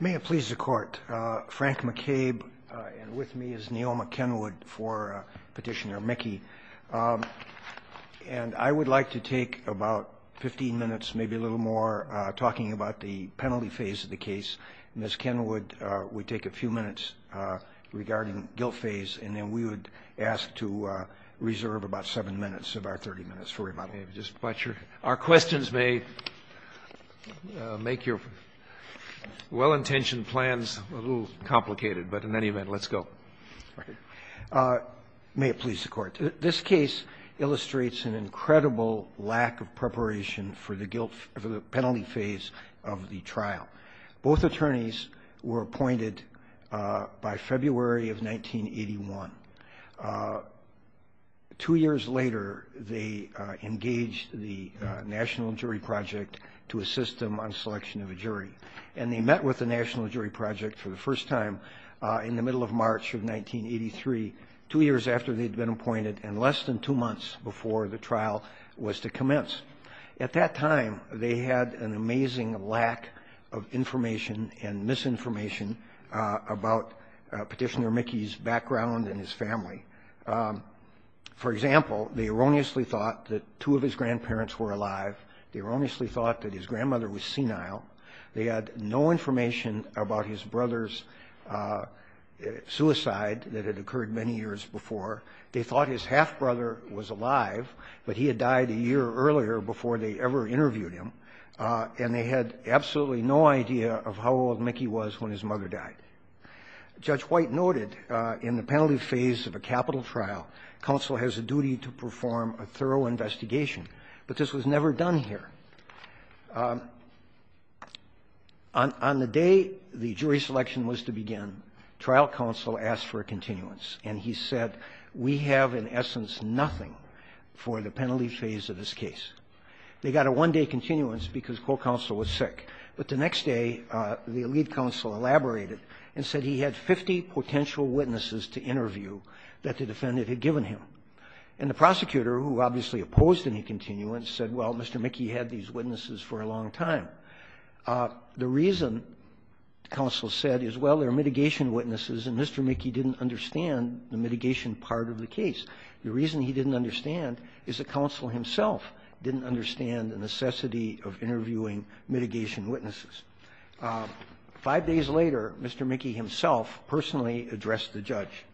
May it please the Court. Frank McCabe, and with me is Neoma Kenwood for Petitioner Mickey. And I would like to take about 15 minutes, maybe a little more, talking about the penalty phase of the case. Ms. Kenwood, we take a few minutes regarding guilt phase, and then we would ask to reserve about 7 minutes of our 30 minutes for rebuttal. Our questions may make your well-intentioned plans a little complicated, but in any event, let's go. May it please the Court. This case illustrates an incredible lack of preparation for the guilt, for the penalty phase of the trial. Both attorneys were appointed by February of 1981. Two years later, they engaged the National Jury Project to assist them on selection of a jury. And they met with the National Jury Project for the first time in the middle of March of 1983, two years after they'd been appointed and less than two months before the trial was to commence. At that time, they had an amazing lack of information and misinformation about Petitioner Mickey's background and his family. For example, they erroneously thought that two of his grandparents were alive. They erroneously thought that his grandmother was senile. They had no information about his brother's suicide that had occurred many years before. They thought his half-brother was alive, but he had died a year earlier before they ever interviewed him. And they had absolutely no idea of how old Mickey was when his mother died. Judge White noted in the penalty phase of a capital trial, counsel has a duty to perform a thorough investigation, but this was never done here. On the day the jury selection was to begin, trial counsel asked for a continuance, and he said, we have in essence nothing for the penalty phase of this case. They got a one-day continuance because court counsel was sick. But the next day, the lead counsel elaborated and said he had 50 potential witnesses to interview that the defendant had given him. And the prosecutor, who obviously opposed any continuance, said, well, Mr. Mickey had these witnesses for a long time. The reason, counsel said, is, well, there are mitigation witnesses and Mr. Mickey didn't understand the mitigation part of the case. The reason he didn't understand is the counsel himself didn't understand the necessity of interviewing mitigation witnesses. Five days later, Mr. Mickey himself personally addressed the judge.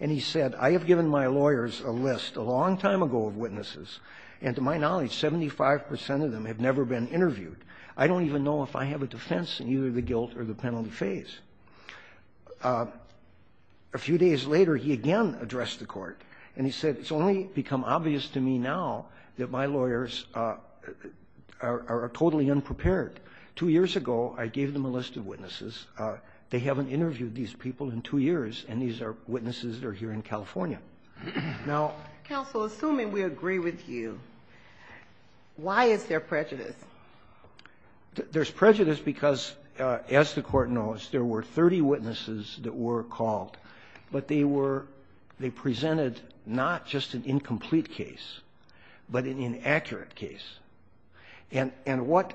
And he said, I have given my lawyers a list a long time ago of witnesses, and to my knowledge, 75 percent of them have never been interviewed. I don't even know if I have a defense in either the guilt or the penalty phase. A few days later, he again addressed the court, and he said, it's only become obvious to me now that my lawyers are totally unprepared. Two years ago, I gave them a list of witnesses. They haven't interviewed these people in two years, and these are witnesses that are here in California. Now — Counsel, assuming we agree with you, why is there prejudice? There's prejudice because, as the court knows, there were 30 witnesses that were called. But they were — they presented not just an incomplete case, but an inaccurate case. And — and what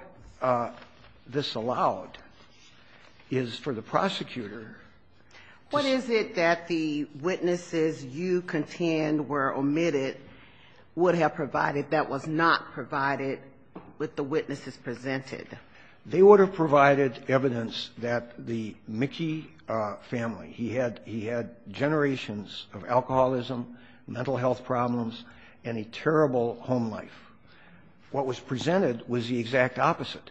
this allowed is for the prosecutor to — What is it that the witnesses you contend were omitted would have provided that was not provided with the witnesses presented? They would have provided evidence that the Mickey family, he had — he had generations of alcoholism, mental health problems, and a terrible home life. What was presented was the exact opposite.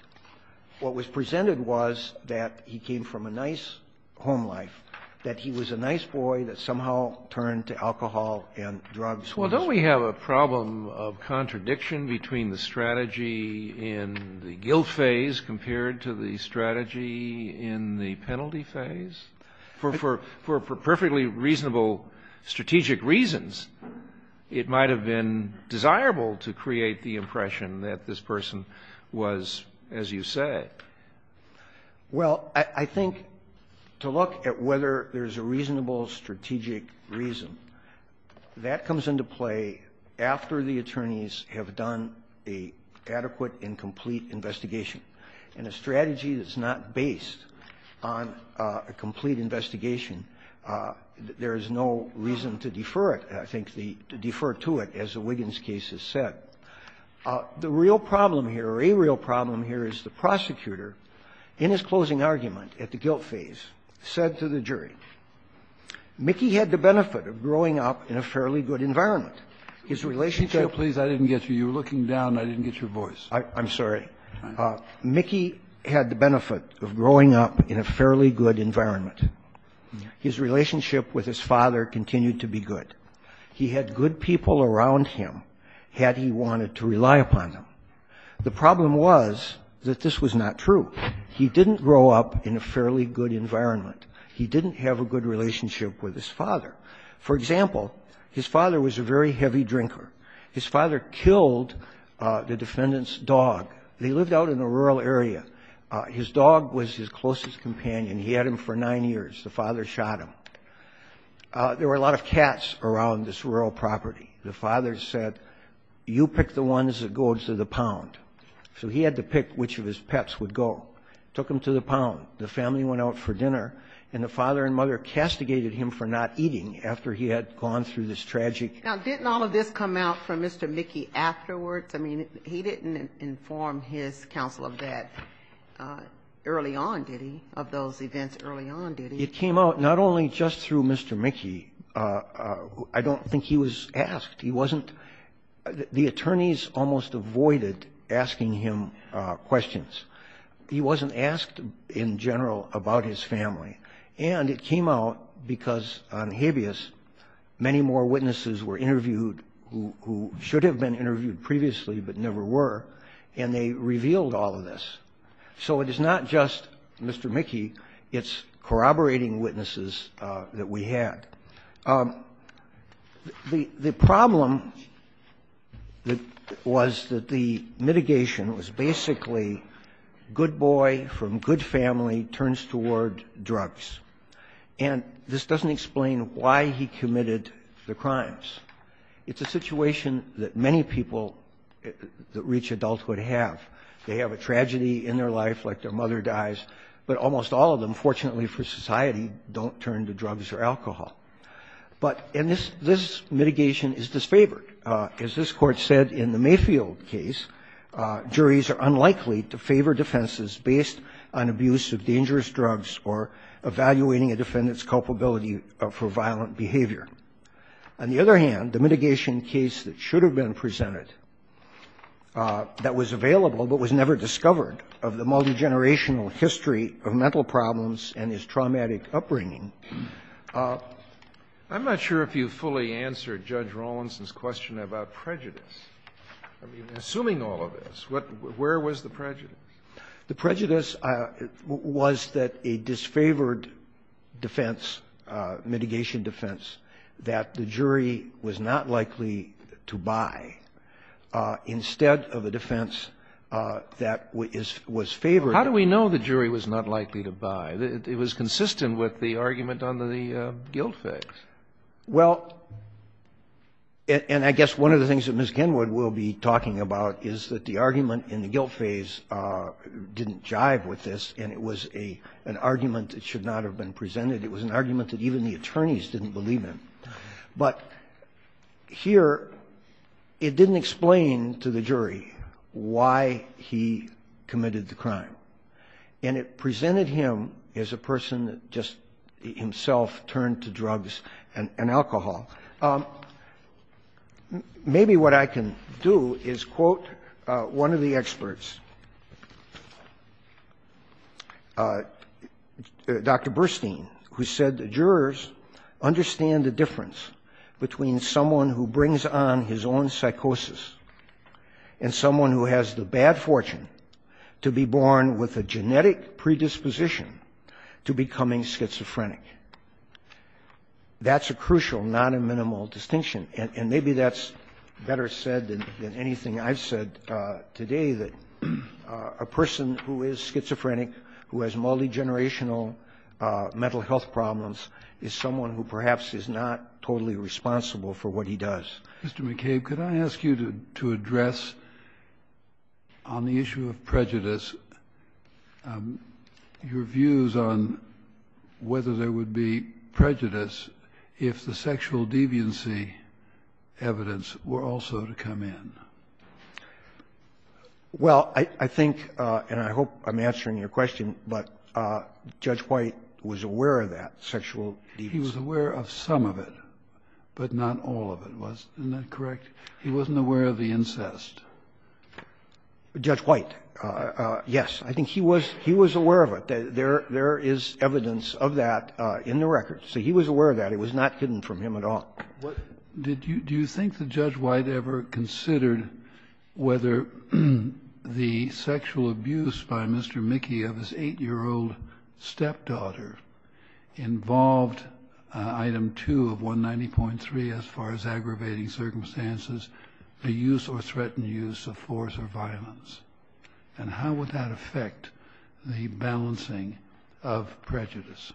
What was presented was that he came from a nice home life, that he was a nice boy that somehow turned to alcohol and drugs. Well, don't we have a problem of contradiction between the strategy in the guilt phase compared to the strategy in the penalty phase? For — for perfectly reasonable strategic reasons, it might have been desirable to create the impression that this person was, as you say — Well, I think to look at whether there's a reasonable strategic reason, that comes into play after the attorneys have done an adequate and complete investigation. In a strategy that's not based on a complete investigation, there is no reason to defer it, I think, the — to defer to it, as the Wiggins case has said. The real problem here, or a real problem here, is the prosecutor, in his closing argument at the guilt phase, said to the jury, Mickey had the benefit of growing up in a fairly good environment. His relationship — Kennedy. Please, I didn't get you. You were looking down. I didn't get your voice. I'm sorry. Mickey had the benefit of growing up in a fairly good environment. His relationship with his father continued to be good. He had good people around him, had he wanted to rely upon them. The problem was that this was not true. He didn't grow up in a fairly good environment. He didn't have a good relationship with his father. For example, his father was a very heavy drinker. His father killed the defendant's dog. They lived out in a rural area. His dog was his closest companion. He had him for nine years. The father shot him. There were a lot of cats around this rural property. The father said, you pick the ones that go to the pound. So he had to pick which of his pets would go. Took them to the pound. The family went out for dinner, and the father and mother castigated him for not eating after he had gone through this tragic. Now, didn't all of this come out from Mr. Mickey afterwards? I mean, he didn't inform his counsel of that early on, did he? Of those events early on, did he? It came out not only just through Mr. Mickey. I don't think he was asked. The attorneys almost avoided asking him questions. He wasn't asked in general about his family. And it came out because on habeas, many more witnesses were interviewed who should have been interviewed previously but never were, and they revealed all of this. So it is not just Mr. Mickey. It's corroborating witnesses that we had. The problem was that the mitigation was basically good boy from good family turns toward drugs, and this doesn't explain why he committed the crimes. It's a situation that many people that reach adulthood have. They have a tragedy in their life, like their mother dies, but almost all of them, fortunately for society, don't turn to drugs or alcohol. But this mitigation is disfavored. As this Court said in the Mayfield case, juries are unlikely to favor defenses based on abuse of dangerous drugs or evaluating a defendant's culpability for violent behavior. On the other hand, the mitigation case that should have been presented that was available but was never discovered of the multigenerational history of mental problems and his traumatic upbringing. I'm not sure if you fully answered Judge Rawlinson's question about prejudice. I mean, assuming all of this, where was the prejudice? The prejudice was that a disfavored defense, mitigation defense, that the jury was not likely to buy instead of a defense that was favored. How do we know the jury was not likely to buy? It was consistent with the argument under the guilt phase. Well, and I guess one of the things that Ms. Kenwood will be talking about is that the argument in the guilt phase didn't jive with this, and it was an argument that should not have been presented. It was an argument that even the attorneys didn't believe in. But here, it didn't explain to the jury why he committed the crime. And it presented him as a person that just himself turned to drugs and alcohol. Maybe what I can do is quote one of the experts, Dr. Burstein, who said the jurors understand the difference between someone who brings on his own psychosis and someone who has the bad fortune to be born with a genetic predisposition to becoming schizophrenic. That's a crucial, not a minimal distinction. And maybe that's better said than anything I've said today, that a person who is schizophrenic, who has multigenerational mental health problems, is someone who perhaps is not totally responsible for what he does. Kennedy. Mr. McCabe, could I ask you to address on the issue of prejudice your views on whether there would be prejudice if the sexual deviancy evidence were also to come in? Well, I think, and I hope I'm answering your question, but Judge White was aware of that sexual deviancy. He was aware of some of it, but not all of it, wasn't that correct? He wasn't aware of the incest. Judge White, yes. I think he was aware of it. There is evidence of that in the records. He was aware of that. It was not hidden from him at all. Do you think that Judge White ever considered whether the sexual abuse by Mr. Mickey of his eight-year-old stepdaughter involved Item 2 of 190.3, as far as aggravating circumstances, the use or threatened use of force or violence? And how would that affect the balancing of prejudice?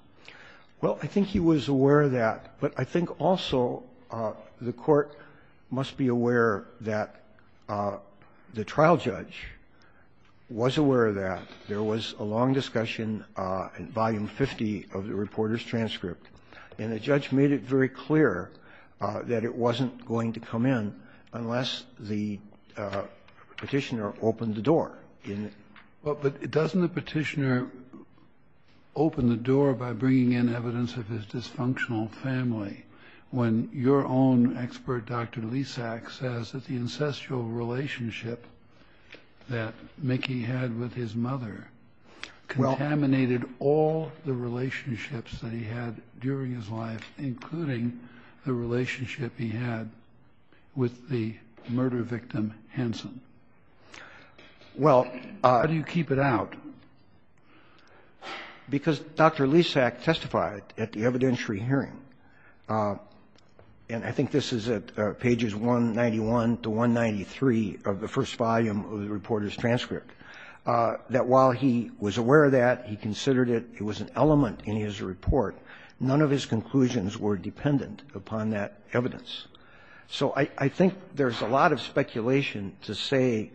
Well, I think he was aware of that, but I think also the Court must be aware that the trial judge was aware of that. There was a long discussion in Volume 50 of the reporter's transcript, and the judge made it very clear that it wasn't going to come in unless the petitioner opened the door. But doesn't the petitioner open the door by bringing in evidence of his dysfunctional family, when your own expert, Dr. Lisak, says that the incestual relationship that Mickey had with his mother contaminated all the relationships that he had during his life, including the relationship he had with the murder victim, Hanson? How do you keep it out? Because Dr. Lisak testified at the evidentiary hearing, and I think this is at pages 191 to 193 of the first volume of the reporter's transcript, that while he was aware of that, he considered it was an element in his report. None of his conclusions were dependent upon that evidence. So I think there's a lot of speculation to say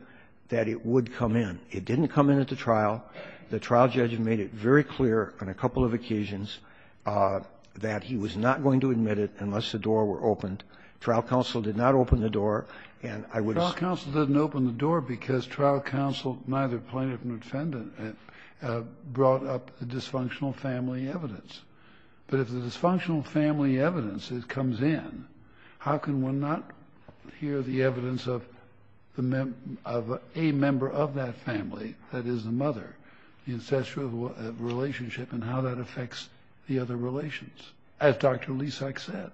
that it would come in. It didn't come in at the trial. The trial judge made it very clear on a couple of occasions that he was not going to admit it unless the door were opened. Trial counsel did not open the door. And I would assume... Trial counsel didn't open the door because trial counsel, neither plaintiff nor defendant, brought up the dysfunctional family evidence. But if the dysfunctional family evidence comes in, how can one not hear the evidence of a member of that family, that is the mother, the incestual relationship and how that affects the other relations, as Dr. Lisak said?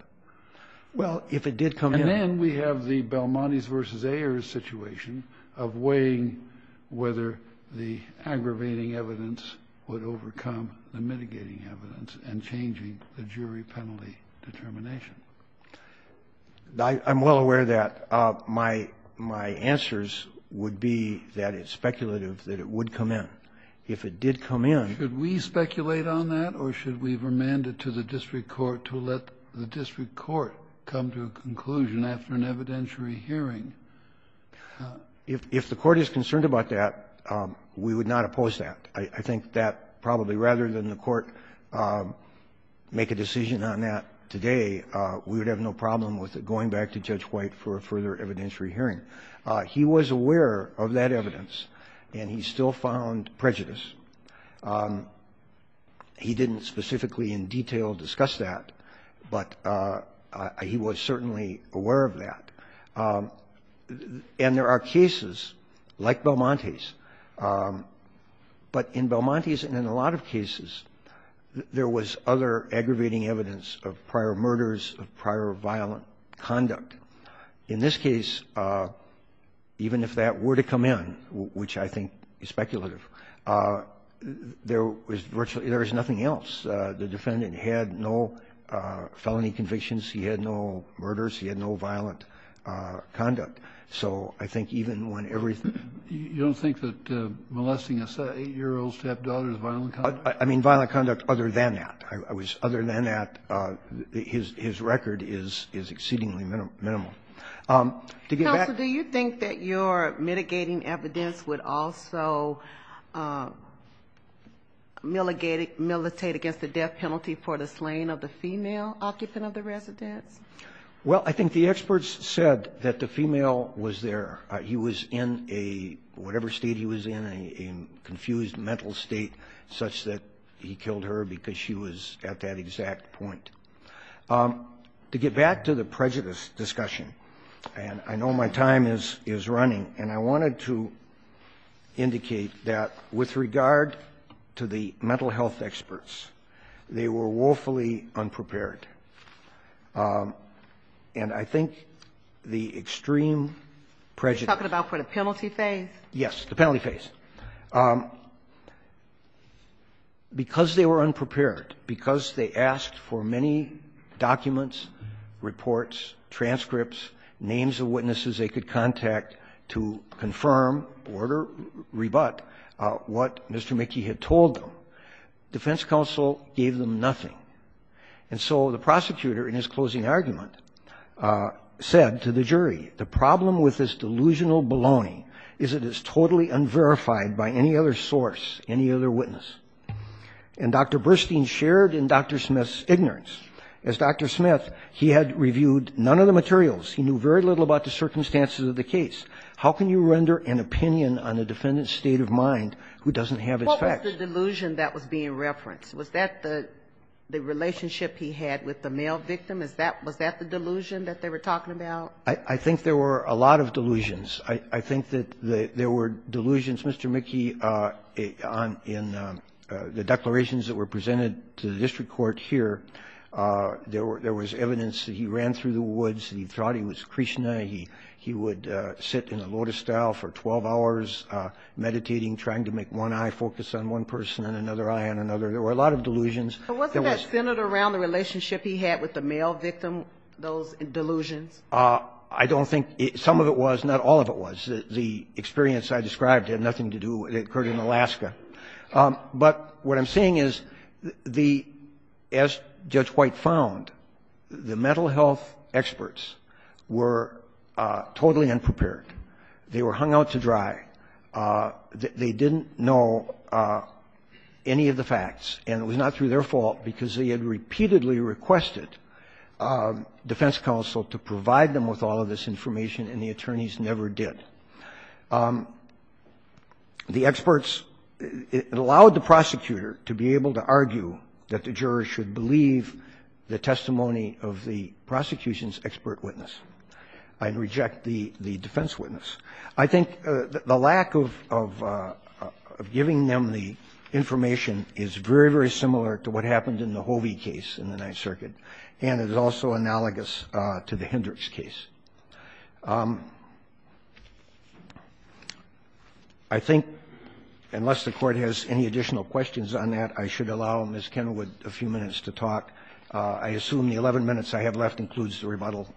Well, if it did come in... And then we have the Belmontes v. Ayers situation of weighing whether the aggravating evidence would overcome the mitigating evidence and changing the jury penalty determination. I'm well aware of that. My answers would be that it's speculative that it would come in. If it did come in... Should we speculate on that or should we remand it to the district court to let the district court come to a conclusion after an evidentiary hearing? If the court is concerned about that, we would not oppose that. I think that probably rather than the court make a decision on that today, we would have no problem with it going back to Judge White for a further evidentiary hearing. He was aware of that evidence, and he still found prejudice. He didn't specifically in detail discuss that, but he was certainly aware of that. And there are cases like Belmontes, but in Belmontes and in a lot of cases, there was other aggravating evidence of prior murders, of prior violent conduct. In this case, even if that were to come in, which I think is speculative, there is nothing else. The defendant had no felony convictions. He had no murders. He had no violent conduct. So I think even when everything... You don't think that molesting an 8-year-old stepdaughter is violent conduct? I mean violent conduct other than that. Other than that, his record is exceedingly minimal. Counsel, do you think that your mitigating evidence would also militate against the death penalty for the slaying of the female occupant of the residence? Well, I think the experts said that the female was there. He was in whatever state he was in, a confused mental state, such that he killed her because she was at that exact point. To get back to the prejudice discussion, and I know my time is running, and I wanted to indicate that with regard to the mental health experts, they were woefully unprepared. And I think the extreme prejudice... You're talking about for the penalty phase? Yes, the penalty phase. Because they were unprepared, because they asked for many documents, reports, transcripts, names of witnesses they could contact to confirm or rebut what Mr. Mickey had told them. Defense counsel gave them nothing. And so the prosecutor, in his closing argument, said to the jury, the problem with this delusional baloney is that it's totally unverified by any other source, any other witness. And Dr. Burstein shared in Dr. Smith's ignorance. As Dr. Smith, he had reviewed none of the materials. He knew very little about the circumstances of the case. How can you render an opinion on a defendant's state of mind who doesn't have its facts? What was the delusion that was being referenced? Was that the relationship he had with the male victim? Was that the delusion that they were talking about? I think there were a lot of delusions. I think that there were delusions, Mr. Mickey, in the declarations that were presented to the district court here There was evidence that he ran through the woods. He thought he was Krishna. He would sit in a lotus style for 12 hours meditating, trying to make one eye focus on one person and another eye on another. There were a lot of delusions. But wasn't that centered around the relationship he had with the male victim, those delusions? I don't think some of it was. Not all of it was. The experience I described had nothing to do with it. It occurred in Alaska. But what I'm saying is, as Judge White found, the mental health experts were totally unprepared. They were hung out to dry. They didn't know any of the facts. And it was not through their fault because they had repeatedly requested defense counsel to provide them with all of this information and the attorneys never did. The experts, it allowed the prosecutor to be able to argue that the jurors should believe the testimony of the prosecution's expert witness and reject the defense witness. I think the lack of giving them the information is very, very similar to what happened in the Hovey case in the Ninth Circuit and is also analogous to the Hendricks case. I think, unless the Court has any additional questions on that, I should allow Ms. Kenwood a few minutes to talk. I assume the 11 minutes I have left includes the rebuttal?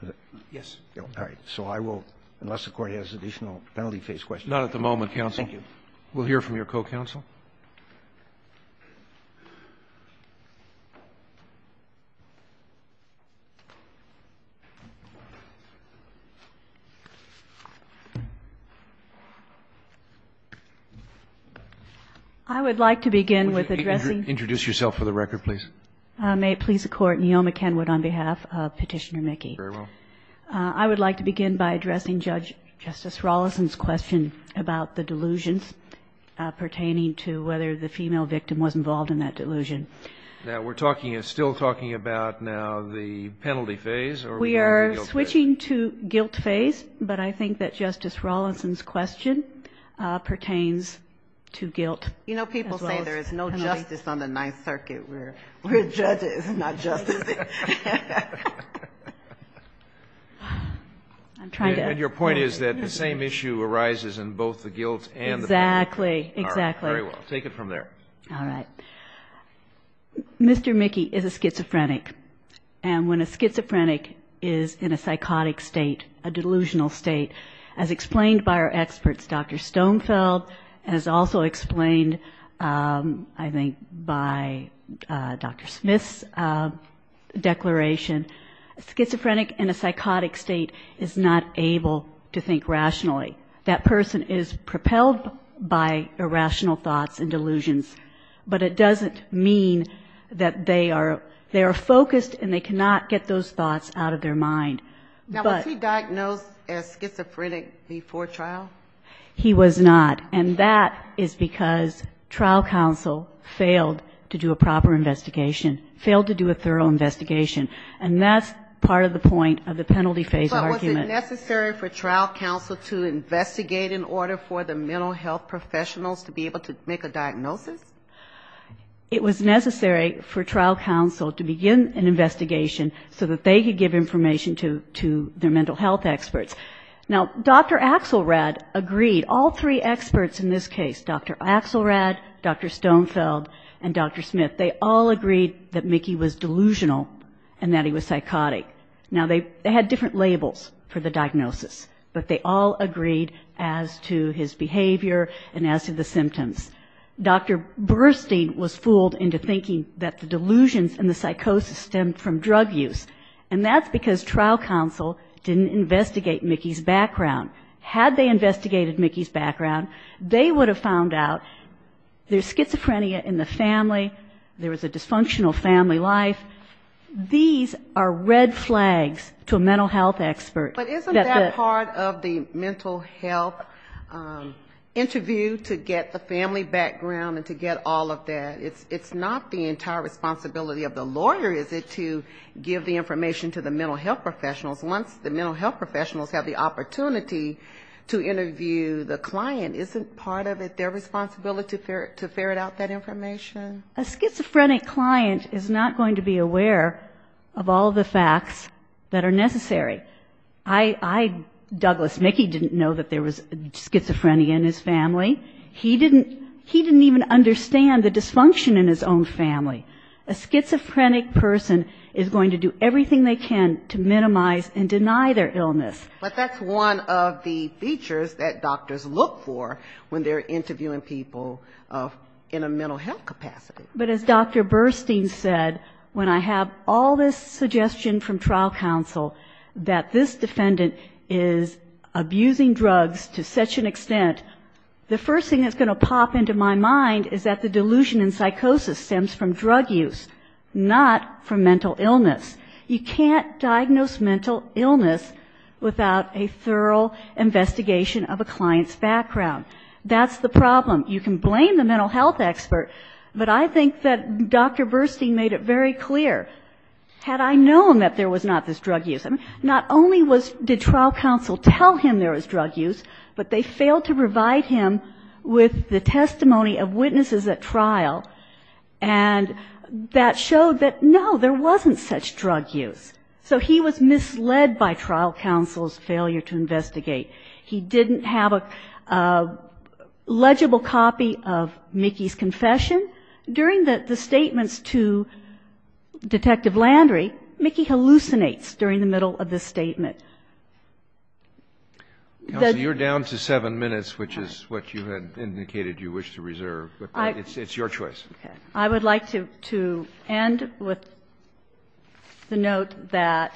Yes. All right. So I will, unless the Court has additional penalty phase questions. Not at the moment, counsel. Thank you. We'll hear from your co-counsel. I would like to begin with addressing. Introduce yourself for the record, please. May it please the Court. Neoma Kenwood on behalf of Petitioner Mickey. Very well. I would like to begin by addressing Judge, I would like to begin by addressing Judge Rawlinson's question about the whether the female victim was involved in that delusion. We're still talking about now the penalty phase? We are switching to guilt phase, but I think that Justice Rawlinson's question pertains to guilt. You know, people say there is no justice on the Ninth Circuit. We're judges, not justices. Your point is that the same issue arises in both the guilt and the penalty? Exactly, exactly. All right. Very well. Take it from there. All right. Mr. Mickey is a schizophrenic. And when a schizophrenic is in a psychotic state, a delusional state, as explained by our experts, Dr. Stonefeld, as also explained, I think, by Dr. Smith's declaration, a schizophrenic in a psychotic state is not able to think rationally. That person is propelled by irrational thoughts and delusions. But it doesn't mean that they are focused and they cannot get those thoughts out of their mind. Now, was he diagnosed as schizophrenic before trial? He was not. And that is because trial counsel failed to do a proper investigation, failed to do a thorough investigation. And that's part of the point of the penalty phase argument. But was it necessary for trial counsel to investigate in order for the mental health professionals to be able to make a diagnosis? It was necessary for trial counsel to begin an investigation so that they could give information to their mental health experts. Now, Dr. Axelrad agreed, all three experts in this case, Dr. Axelrad, Dr. Stonefeld, and Dr. Smith, they all agreed that Mickey was delusional and that he was psychotic. Now, they had different labels for the diagnosis. But they all agreed as to his behavior and as to the symptoms. Dr. Burstein was fooled into thinking that the delusions and the psychosis stemmed from drug use. And that's because trial counsel didn't investigate Mickey's background. Had they investigated Mickey's background, they would have found out there's schizophrenia in the family, there was a dysfunctional family life. And these are red flags to a mental health expert. But isn't that part of the mental health interview to get the family background and to get all of that? It's not the entire responsibility of the lawyer, is it, to give the information to the mental health professionals? Once the mental health professionals have the opportunity to interview the client, isn't part of it their responsibility to ferret out that information? A schizophrenic client is not going to be aware of all of the facts that are necessary. I, Douglas, Mickey didn't know that there was schizophrenia in his family. He didn't even understand the dysfunction in his own family. A schizophrenic person is going to do everything they can to minimize and deny their illness. But that's one of the features that doctors look for when they're interviewing a mental health expert. But as Dr. Burstein said, when I have all this suggestion from trial counsel that this defendant is abusing drugs to such an extent, the first thing that's going to pop into my mind is that the delusion in psychosis stems from drug use, not from mental illness. You can't diagnose mental illness without a thorough investigation of a client's background. That's the problem. You can blame the mental health expert, but you can't blame the mental health expert. But I think that Dr. Burstein made it very clear, had I known that there was not this drug use, not only did trial counsel tell him there was drug use, but they failed to provide him with the testimony of witnesses at trial. And that showed that, no, there wasn't such drug use. So he was misled by trial counsel's failure to investigate. He didn't have a legible copy of Mickey's confession. And then during the statements to Detective Landry, Mickey hallucinates during the middle of the statement. The judge. Kennedy. Counsel, you're down to 7 minutes, which is what you had indicated you wished to reserve. But it's your choice. Okay. I would like to end with the note that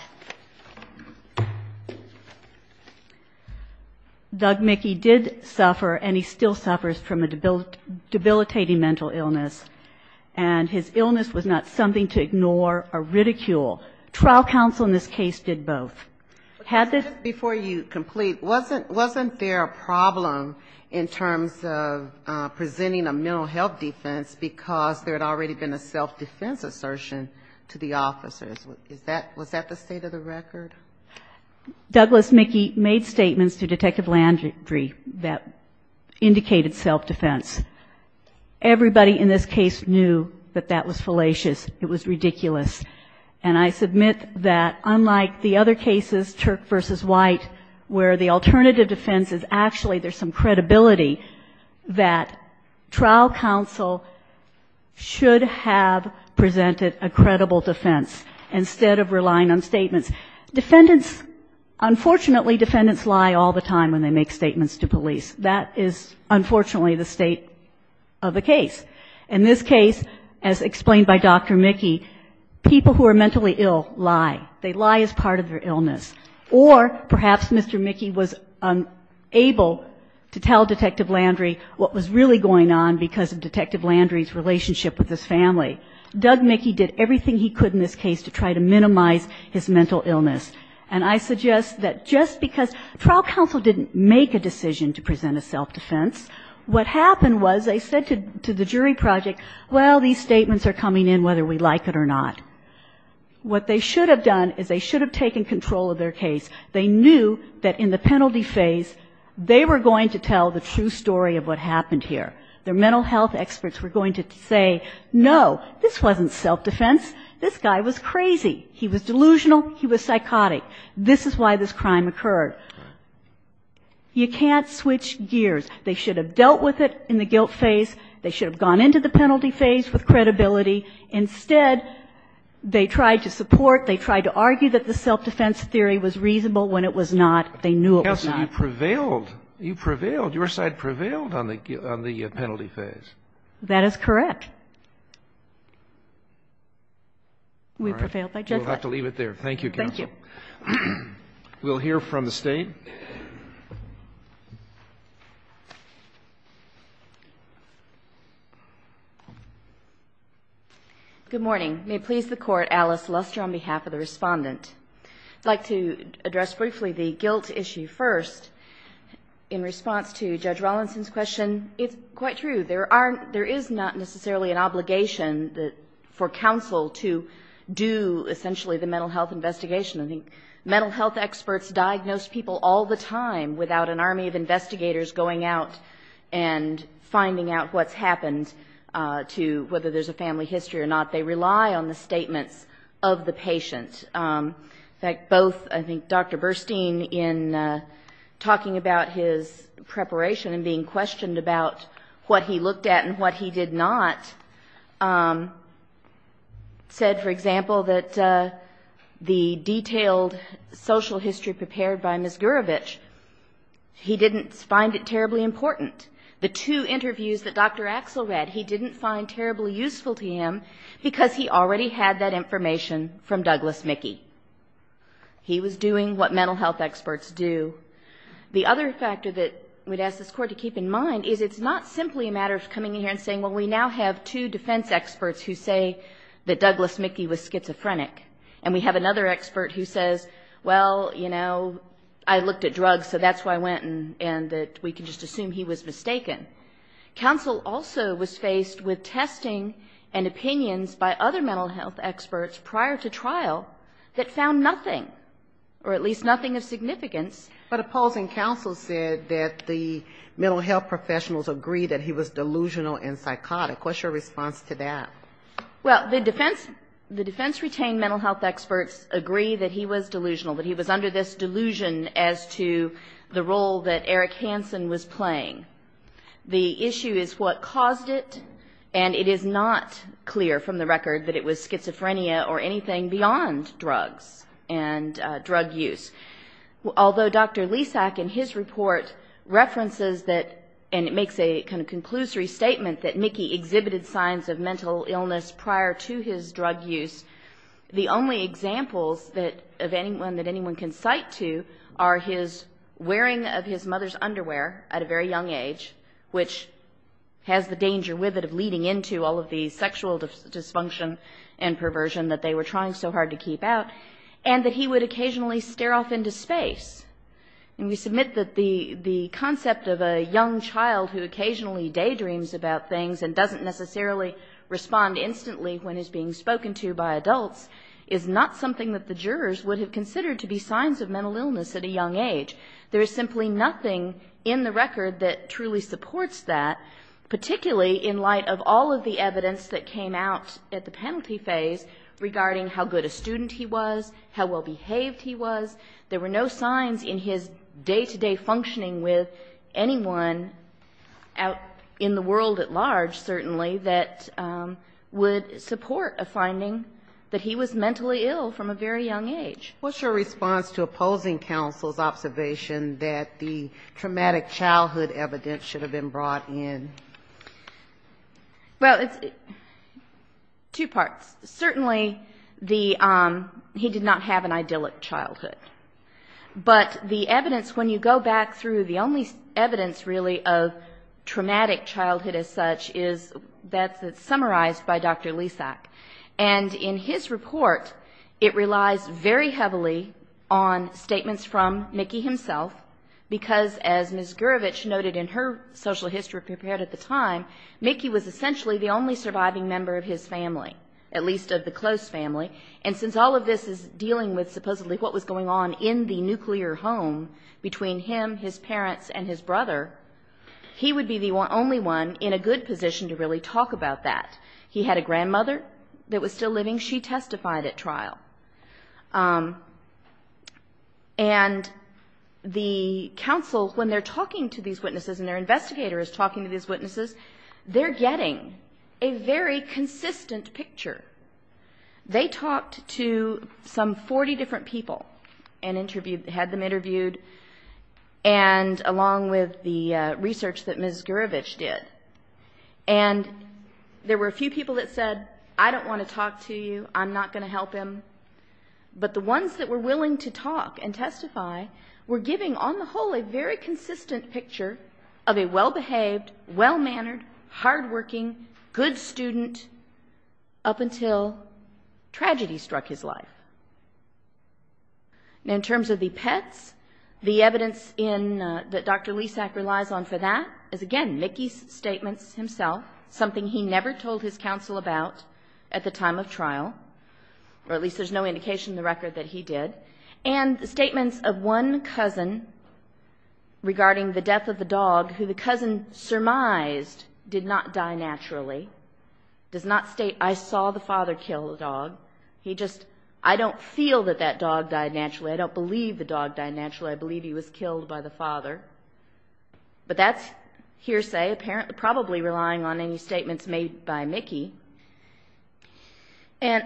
Doug Mickey did suffer, and he still suffers, from mental illness. And his illness was not something to ignore or ridicule. Trial counsel in this case did both. Had this... But just before you complete, wasn't there a problem in terms of presenting a mental health defense because there had already been a self-defense assertion to the officers? Was that the state of the record? Douglas Mickey made statements to Detective Landry that indicated self-defense. Everybody in this case knew that that was fallacious. It was ridiculous. And I submit that unlike the other cases, Turk v. White, where the alternative defense is actually there's some credibility, that trial counsel should have presented a credible defense instead of relying on statements. Defendants, unfortunately, defendants lie all the time when they make statements to police. That is unfortunately the state of the case. In this case, as explained by Dr. Mickey, people who are mentally ill lie. They lie as part of their illness. Or perhaps Mr. Mickey was unable to tell Detective Landry what was really going on because of Detective Landry's relationship with his family. Doug Mickey did everything he could in this case to try to minimize his mental illness. And I suggest that just because trial counsel didn't make a decision to present a self-defense, what happened was they said to the jury project, well, these statements are coming in whether we like it or not. What they should have done is they should have taken control of their case. They knew that in the penalty phase, they were going to tell the true story of what happened here. Their mental health experts were going to say, no, this wasn't self-defense. This guy was crazy. He was delusional. He was psychotic. This is why this crime occurred. You can't switch gears. They should have dealt with it in the guilt phase. They should have gone into the penalty phase with credibility. Instead, they tried to support, they tried to argue that the self-defense theory was reasonable when it was not. They knew it was not. You prevailed. You prevailed. Your side prevailed on the penalty phase. That is correct. We prevailed by just that. We'll have to leave it there. Thank you, counsel. Thank you. We'll hear from the State. Good morning. May it please the Court, Alice Luster on behalf of the Respondent. I'd like to address briefly the guilt issue first. In response to Judge Rawlinson's question, it's quite true. There is not necessarily an obligation for counsel to do essentially the mental health investigation. I think mental health experts diagnose people all the time without an army of investigators going out and finding out what's happened to whether there's a family history or not. They rely on the statements of the patient. In fact, both I think Dr. Burstein in talking about his preparation and being questioned about what he looked at and what he did not said, for example, that the detailed social history prepared by Ms. Gurevich, he didn't find it terribly important. The two interviews that Dr. Axel read, he didn't find terribly useful to him because he already had that information from Douglas Mickey. He was doing what mental health experts do. The other factor that we'd ask this Court to keep in mind is it's not simply a matter of coming in here and saying, well, we now have two defense experts who say that Douglas Mickey was schizophrenic, and we have another expert who says, well, you know, I looked at drugs, so that's where I went, and that we can just assume he was mistaken. Counsel also was faced with testing and opinions by other mental health experts prior to trial that found nothing, or at least nothing of significance. But opposing counsel said that the mental health professionals agree that he was delusional and psychotic. What's your response to that? Well, the defense retained mental health experts agree that he was delusional, that he was under this delusion as to the role that Eric Hansen was playing. The issue is what caused it, and it is not clear from the record that it was schizophrenia or anything beyond drugs and drug use. Although Dr. Lisak in his report references that, and it makes a kind of conclusory statement that Mickey exhibited signs of mental illness prior to his death, the only signs that anyone can cite to are his wearing of his mother's underwear at a very young age, which has the danger with it of leading into all of the sexual dysfunction and perversion that they were trying so hard to keep out, and that he would occasionally stare off into space. And we submit that the concept of a young child who occasionally daydreams about things and doesn't necessarily respond instantly when he's being spoken to by adults is not something that the jurors would have considered to be signs of mental illness at a young age. There is simply nothing in the record that truly supports that, particularly in light of all of the evidence that came out at the penalty phase regarding how good a student he was, how well behaved he was. There were no signs in his day-to-day functioning with anyone out in the world at large, certainly, that would support a finding that he was mentally ill from a very young age. What's your response to opposing counsel's observation that the traumatic childhood evidence should have been brought in? Well, it's two parts. Certainly, the, he did not have an idyllic childhood. But the evidence, when you go back through, the only evidence really of traumatic childhood as such is that's summarized by Dr. Lysak. And in his report, it relies very heavily on statements from Mickey himself, because as Ms. Gurevich noted in her social history paper at the time, Mickey was essentially the only surviving member of his family, at least of the close family. And since all of this is dealing with supposedly what was going on in the nuclear home between him, his parents, and his brother, he would be the only one in a good position to really talk about that. He had a grandmother that was still living. She testified at trial. And the counsel, when they're talking to these witnesses and their investigator is talking to these witnesses, they're getting a very consistent picture. They talked to some 40 different people and interviewed, had them interviewed, and along with the research that Ms. Gurevich did. And there were a few people that said, I don't want to talk to you, I'm not going to help him. But the ones that were willing to talk and testify were giving, on the whole, a very consistent picture of a well-behaved, well-mannered, hardworking, good student up until his tragedy struck his life. Now, in terms of the pets, the evidence that Dr. Lisak relies on for that is, again, Mickey's statements himself, something he never told his counsel about at the time of trial, or at least there's no indication in the record that he did. And the statements of one cousin regarding the death of the dog, who the cousin surmised did not die naturally, does not state, I saw the father kill the dog. He just, I don't feel that that dog died naturally, I don't believe the dog died naturally. I believe he was killed by the father. But that's hearsay, probably relying on any statements made by Mickey. And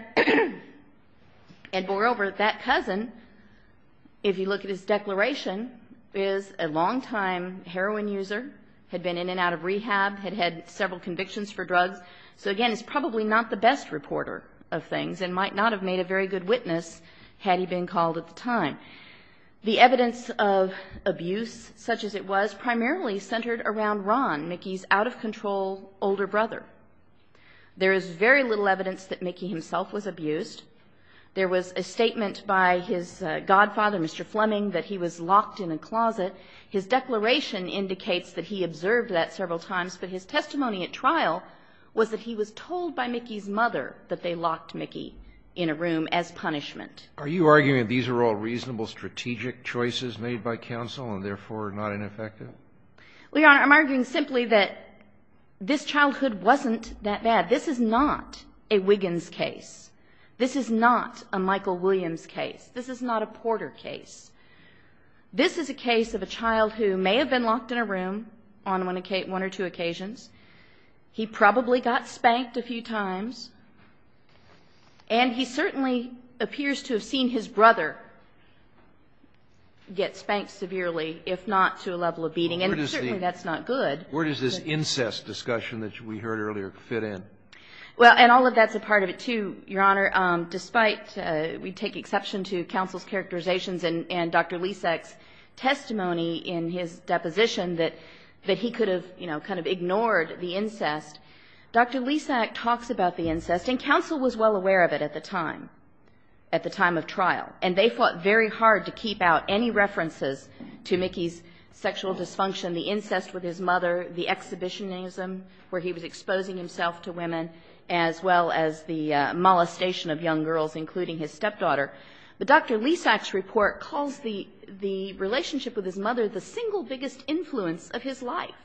moreover, that cousin, if you look at his declaration, is a long-time heroin user, had been in and out of rehab, had had several convictions for drugs, so, again, is probably not the best reporter of things, and might not have made a very good witness, had he been called at the time. The evidence of abuse, such as it was, primarily centered around Ron, Mickey's out-of-control older brother. There is very little evidence that Mickey himself was abused. There was a statement by his godfather, Mr. Fleming, that he was locked in a closet. His declaration indicates that he observed that several times, but his testimony at trial was that he was told by Mickey's mother that they locked Mickey in a room as punishment. Are you arguing that these are all reasonable strategic choices made by counsel and, therefore, not ineffective? Well, Your Honor, I'm arguing simply that this childhood wasn't that bad. This is not a Wiggins case. This is not a Michael Williams case. This is not a Porter case. This is a case of a child who may have been locked in a room on one or two occasions. He probably got spanked a few times, and he certainly appears to have seen his brother get spanked severely, if not to a level of beating, and certainly that's not good. Where does this incest discussion that we heard earlier fit in? Well, and all of that's a part of it, too, Your Honor. Despite, we take exception to counsel's characterizations and Dr. Lysak's testimony in his deposition that he could have, you know, kind of ignored the incest. Dr. Lysak talks about the incest, and counsel was well aware of it at the time, at the time of trial. And they fought very hard to keep out any references to Mickey's sexual dysfunction, the incest with his mother, the exhibitionism where he was exposing himself to women, as well as the molestation of young girls, including his stepdaughter. But Dr. Lysak's report calls the relationship with his mother the single biggest influence of his life.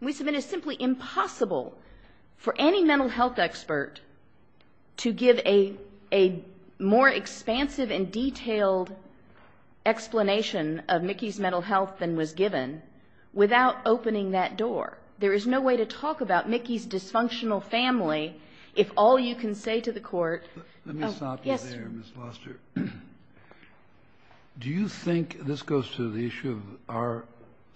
And we submit it's simply impossible for any mental health expert to give a more expansive and detailed explanation of Mickey's mental health than was given without opening that door. There is no way to talk about Mickey's dysfunctional family if all you can say to the court --" Let me stop you there, Ms. Luster. Do you think, this goes to the issue of our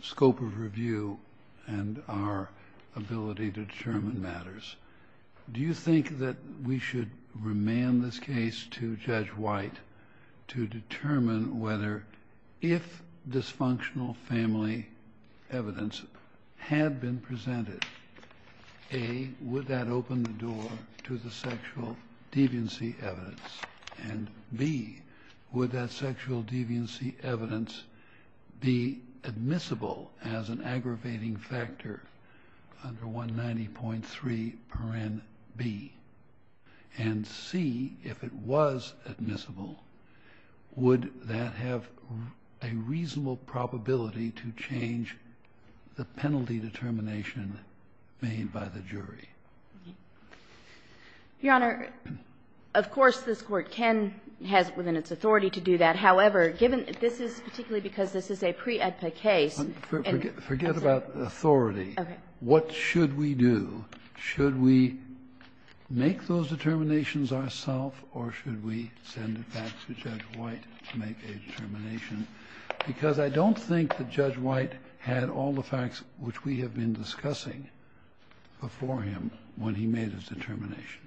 scope of review and our ability to determine matters, do you think that we should remand this case to Judge White to determine whether if dysfunctional family evidence had been presented, A, would that open the sexual deviancy evidence? And B, would that sexual deviancy evidence be admissible as an aggravating factor under 190.3 paren B? And C, if it was admissible, would that have a reasonable probability to change the Your Honor, of course this Court can, has within its authority to do that. However, given this is particularly because this is a pre-AEDPA case and Forget about authority. What should we do? Should we make those determinations ourself or should we send it back to Judge White to make a determination? Because I don't think that Judge White had all the facts which we have been discussing before him when he made his determination.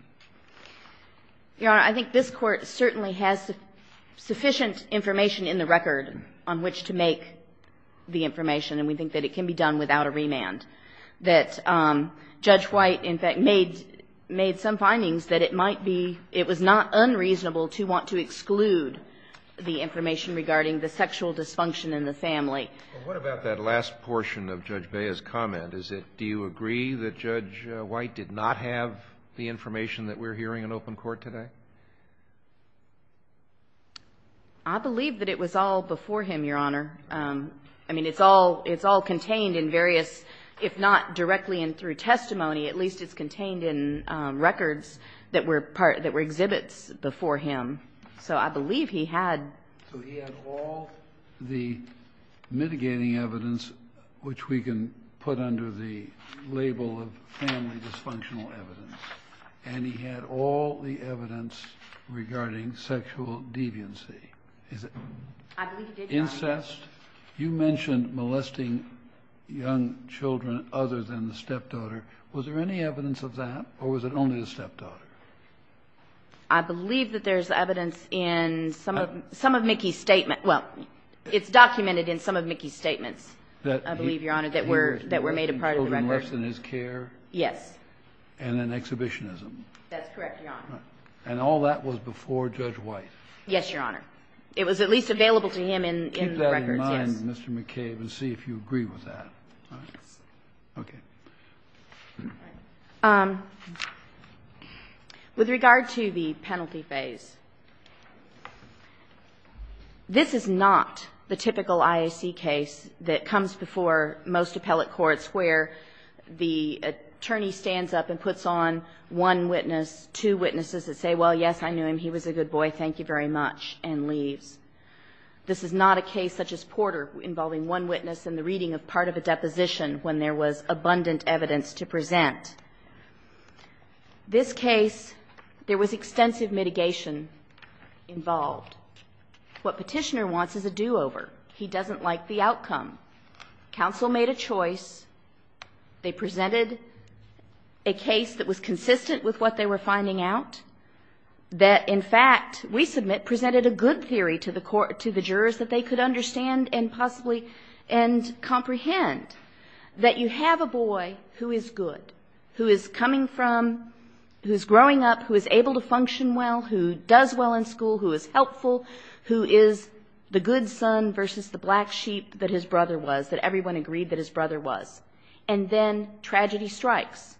Your Honor, I think this Court certainly has sufficient information in the record on which to make the information. And we think that it can be done without a remand. That Judge White, in fact, made some findings that it might be, it was not unreasonable to want to exclude the information regarding the sexual dysfunction in the family. Well, what about that last portion of Judge Bea's comment? Is it, do you agree that Judge White did not have the information that we're hearing in open court today? I believe that it was all before him, Your Honor. I mean, it's all contained in various, if not directly and through testimony, at least it's contained in records that were exhibits before him. So I believe he had. So he had all the mitigating evidence which we can put under the label of family dysfunctional evidence. And he had all the evidence regarding sexual deviancy. Is it incest? You mentioned molesting young children other than the stepdaughter. Was there any evidence of that or was it only the stepdaughter? I believe that there's evidence in some of Mickey's statements. Well, it's documented in some of Mickey's statements, I believe, Your Honor, that were made a part of the records. He was molesting children less than his care? Yes. And then exhibitionism. That's correct, Your Honor. And all that was before Judge White? Yes, Your Honor. It was at least available to him in the records, yes. Keep that in mind, Mr. McCabe, and see if you agree with that. Okay. With regard to the penalty phase, this is not the typical IAC case that comes before most appellate courts where the attorney stands up and puts on one witness, two witnesses that say, well, yes, I knew him, he was a good boy, thank you very much, and leaves. This is not a case such as Porter involving one witness and the reading of part of the deposition when there was abundant evidence to present. This case, there was extensive mitigation involved. What Petitioner wants is a do-over. He doesn't like the outcome. Counsel made a choice. They presented a case that was consistent with what they were finding out, that, in fact, we submit presented a good theory to the jurors that they could understand and possibly comprehend that you have a boy who is good, who is coming from, who is growing up, who is able to function well, who does well in school, who is helpful, who is the good son versus the black sheep that his brother was, that everyone agreed that his brother was, and then tragedy strikes.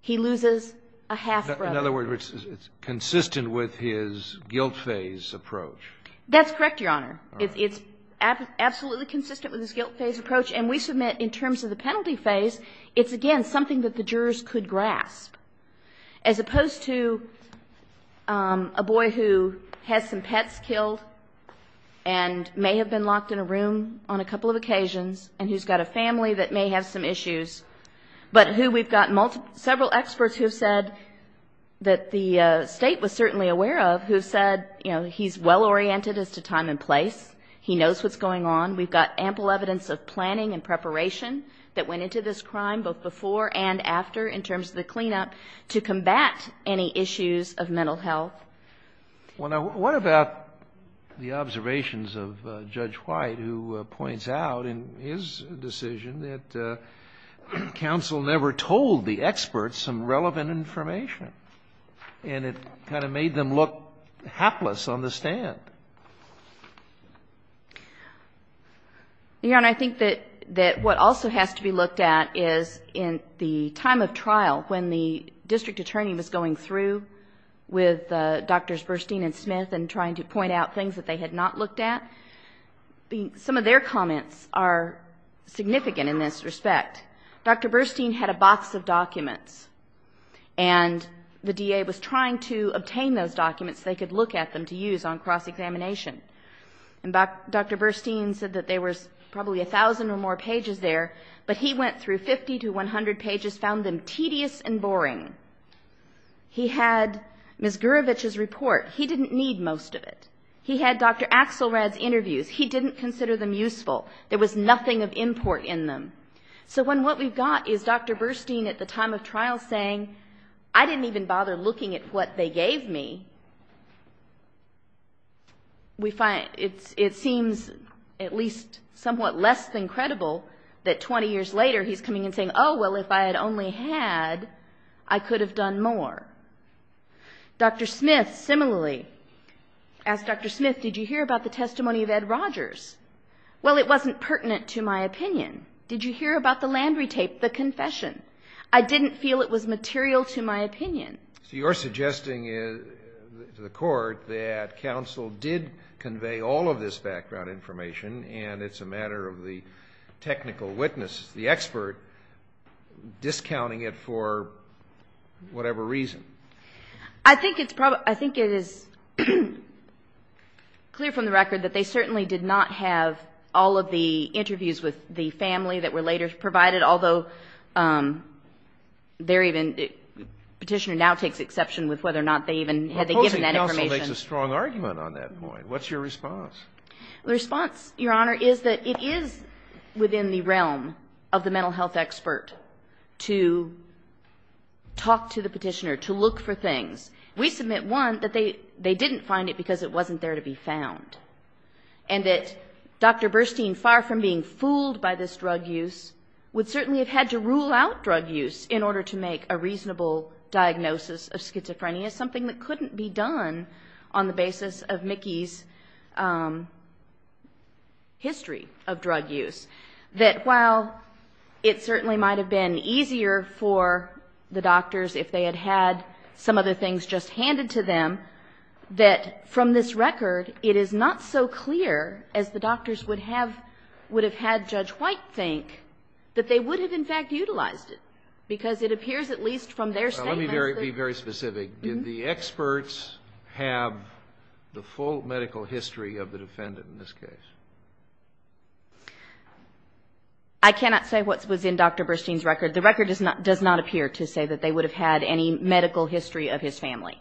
He loses a half-brother. In other words, it's consistent with his guilt phase approach. That's correct, Your Honor. It's absolutely consistent with his guilt phase approach. And we submit in terms of the penalty phase, it's, again, something that the jurors could grasp, as opposed to a boy who has some pets killed and may have been locked in a room on a couple of occasions and who's got a family that may have some issues but who we've got several experts who have said that the State was certainly aware of, who said, you know, he's well-oriented as to time and place, he knows what's going on, we've got ample evidence of planning and preparation that went into this crime both before and after in terms of the cleanup to combat any issues of mental health. What about the observations of Judge White, who points out in his decision that counsel never told the experts some relevant information, and it kind of made them look hapless on the stand? Your Honor, I think that what also has to be looked at is in the time of trial, when the district attorney was going through with Drs. Burstein and Smith and trying to point out things that they had not looked at, some of their comments are significant in this respect. Dr. Burstein had a box of documents, and the DA was trying to obtain those documents so they could look at them to use on cross-examination. And Dr. Burstein said that there was probably a thousand or more pages there, but he went through 50 to 100 pages, found them tedious and boring. He had Ms. Gurevich's report. He didn't need most of it. He had Dr. Axelrad's interviews. He didn't consider them useful. There was nothing of import in them. So when what we've got is Dr. Burstein at the time of trial saying, I didn't even see, we find it seems at least somewhat less than credible that 20 years later he's coming and saying, oh, well, if I had only had, I could have done more. Dr. Smith, similarly, asked Dr. Smith, did you hear about the testimony of Ed Rogers? Well, it wasn't pertinent to my opinion. Did you hear about the Landry tape, the confession? I didn't feel it was material to my opinion. So you're suggesting to the Court that counsel did convey all of this background information, and it's a matter of the technical witness, the expert, discounting it for whatever reason. I think it's probably, I think it is clear from the record that they certainly did not have all of the interviews with the family that were later provided, although they're even, Petitioner now takes exception with whether or not they even had they given that information. Counsel makes a strong argument on that point. What's your response? The response, Your Honor, is that it is within the realm of the mental health expert to talk to the Petitioner, to look for things. We submit, one, that they didn't find it because it wasn't there to be found, and that Dr. Burstein, far from being fooled by this drug use, would certainly have had to rule out drug use in order to make a reasonable diagnosis of schizophrenia, something that couldn't be done on the basis of Mickey's history of drug use. That while it certainly might have been easier for the doctors if they had had some other things just handed to them, that from this record, it is not so clear as the doctors would have had Judge White think that they would have, in fact, utilized it, because it appears at least from their statements that the experts have the full medical history of the defendant in this case. I cannot say what was in Dr. Burstein's record. The record does not appear to say that they would have had any medical history of his family.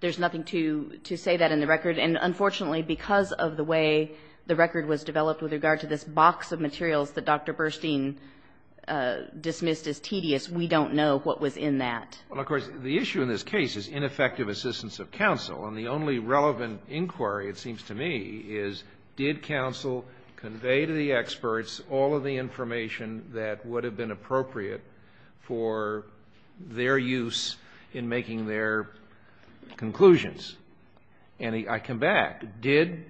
There's nothing to say that in the record. And unfortunately, because of the way the record was developed with regard to this box of materials that Dr. Burstein dismissed as tedious, we don't know what was in that. Well, of course, the issue in this case is ineffective assistance of counsel. And the only relevant inquiry, it seems to me, is did counsel convey to the experts all of the information that would have been appropriate for their use in making their conclusions? And I come back. Did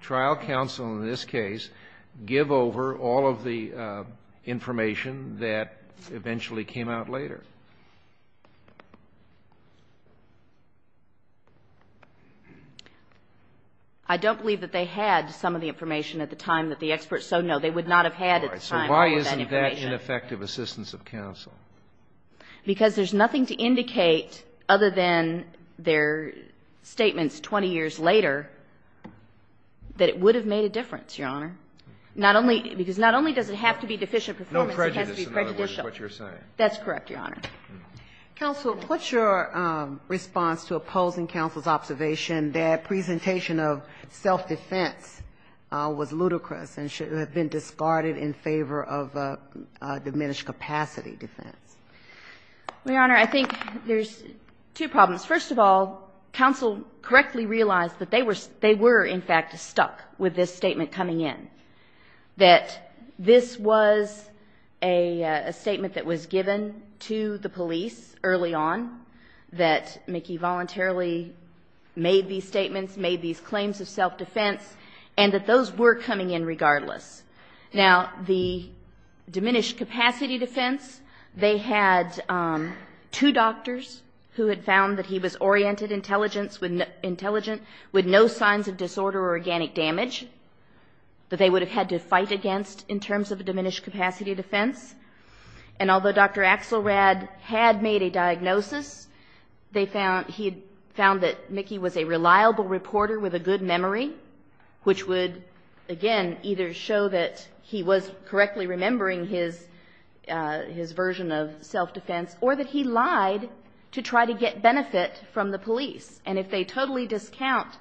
trial counsel in this case give over all of the information that eventually came out later? I don't believe that they had some of the information at the time that the experts so know they would not have had at the time all of that information. So why isn't that ineffective assistance of counsel? Because there's nothing to indicate, other than their statements 20 years later, that it would have made a difference, Your Honor. Not only because not only does it have to be deficient performance, it has to be prejudicial. No prejudice, in other words, is what you're saying. That's correct, Your Honor. Counsel, what's your response to opposing counsel's observation that presentation of self-defense was ludicrous and should have been discarded in favor of diminished capacity defense? Well, Your Honor, I think there's two problems. First of all, counsel correctly realized that they were in fact stuck with this statement coming in, that this was a statement that was given to the police early on, that Nikki voluntarily made these statements, made these claims of self-defense, and that those were coming in regardless. Now, the diminished capacity defense, they had two doctors who had found that he was oriented intelligent with no signs of disorder or organic damage that they would have had to fight against in terms of a diminished capacity defense. He found that Nikki was a reliable reporter with a good memory, which would, again, either show that he was correctly remembering his version of self-defense or that he lied to try to get benefit from the police. And if they totally discount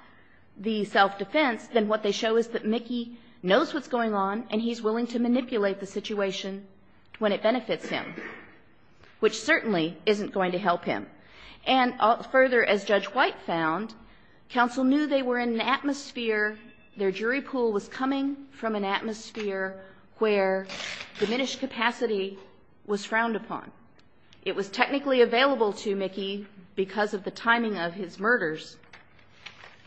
the self-defense, then what they show is that Nikki knows what's going on and he's willing to manipulate the situation when it benefits him, which certainly isn't going to help him. And further, as Judge White found, counsel knew they were in an atmosphere, their jury pool was coming from an atmosphere where diminished capacity was frowned upon. It was technically available to Nikki because of the timing of his murders,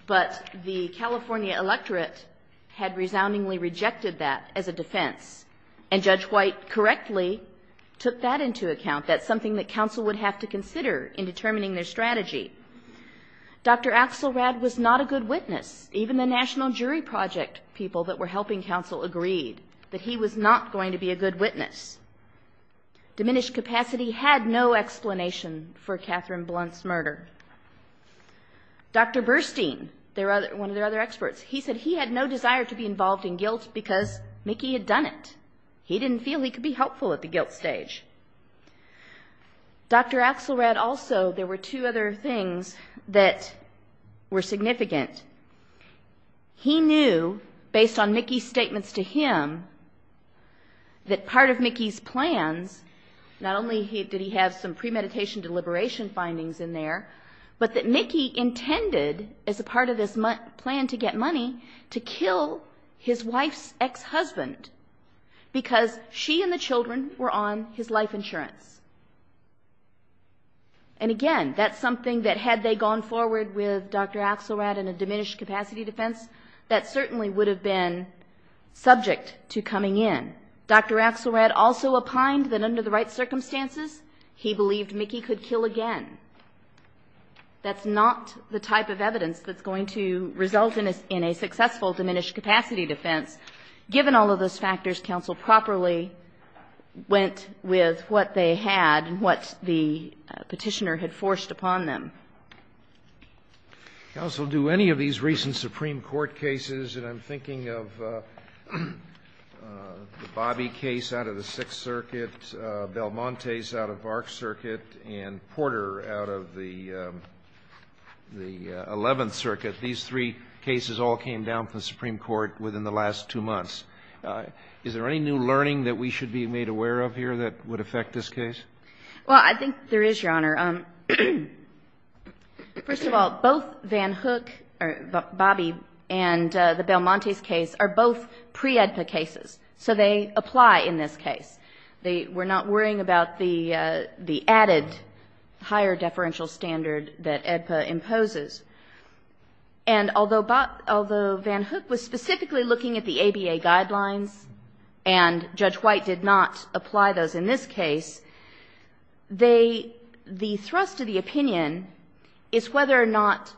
but the California electorate had resoundingly rejected that as a defense. And Judge White correctly took that into account. That's something that counsel would have to consider in determining their strategy. Dr. Axelrad was not a good witness. Even the National Jury Project people that were helping counsel agreed that he was not going to be a good witness. Diminished capacity had no explanation for Catherine Blunt's murder. Dr. Burstein, one of their other experts, he said he had no desire to be involved in guilt because Nikki had done it. He didn't feel he could be helpful at the guilt stage. Dr. Axelrad also, there were two other things that were significant. He knew, based on Nikki's statements to him, that part of Nikki's plans, not only did he have some premeditation deliberation findings in there, but that Nikki intended as a part of this plan to get money to kill his wife's ex-husband. Because she and the children were on his life insurance. And again, that's something that had they gone forward with Dr. Axelrad and a diminished capacity defense, that certainly would have been subject to coming in. Dr. Axelrad also opined that under the right circumstances, he believed Nikki could kill again. That's not the type of evidence that's going to result in a successful diminished capacity defense. Given all of those factors, counsel properly went with what they had and what the Petitioner had forced upon them. Counsel, do any of these recent Supreme Court cases, and I'm thinking of the Bobbie case out of the Sixth Circuit, Belmonte's out of Vark Circuit, and Porter out of the Eleventh Circuit, these three cases all came down to the Supreme Court within the last two months. Is there any new learning that we should be made aware of here that would affect this case? Well, I think there is, Your Honor. First of all, both Van Hook, or Bobbie, and the Belmonte's case are both pre-AEDPA cases, so they apply in this case. They were not worrying about the added higher deferential standard that AEDPA imposes on the Supreme Court. And although Van Hook was specifically looking at the ABA guidelines, and Judge White did not apply those in this case, they, the thrust of the opinion is whether or not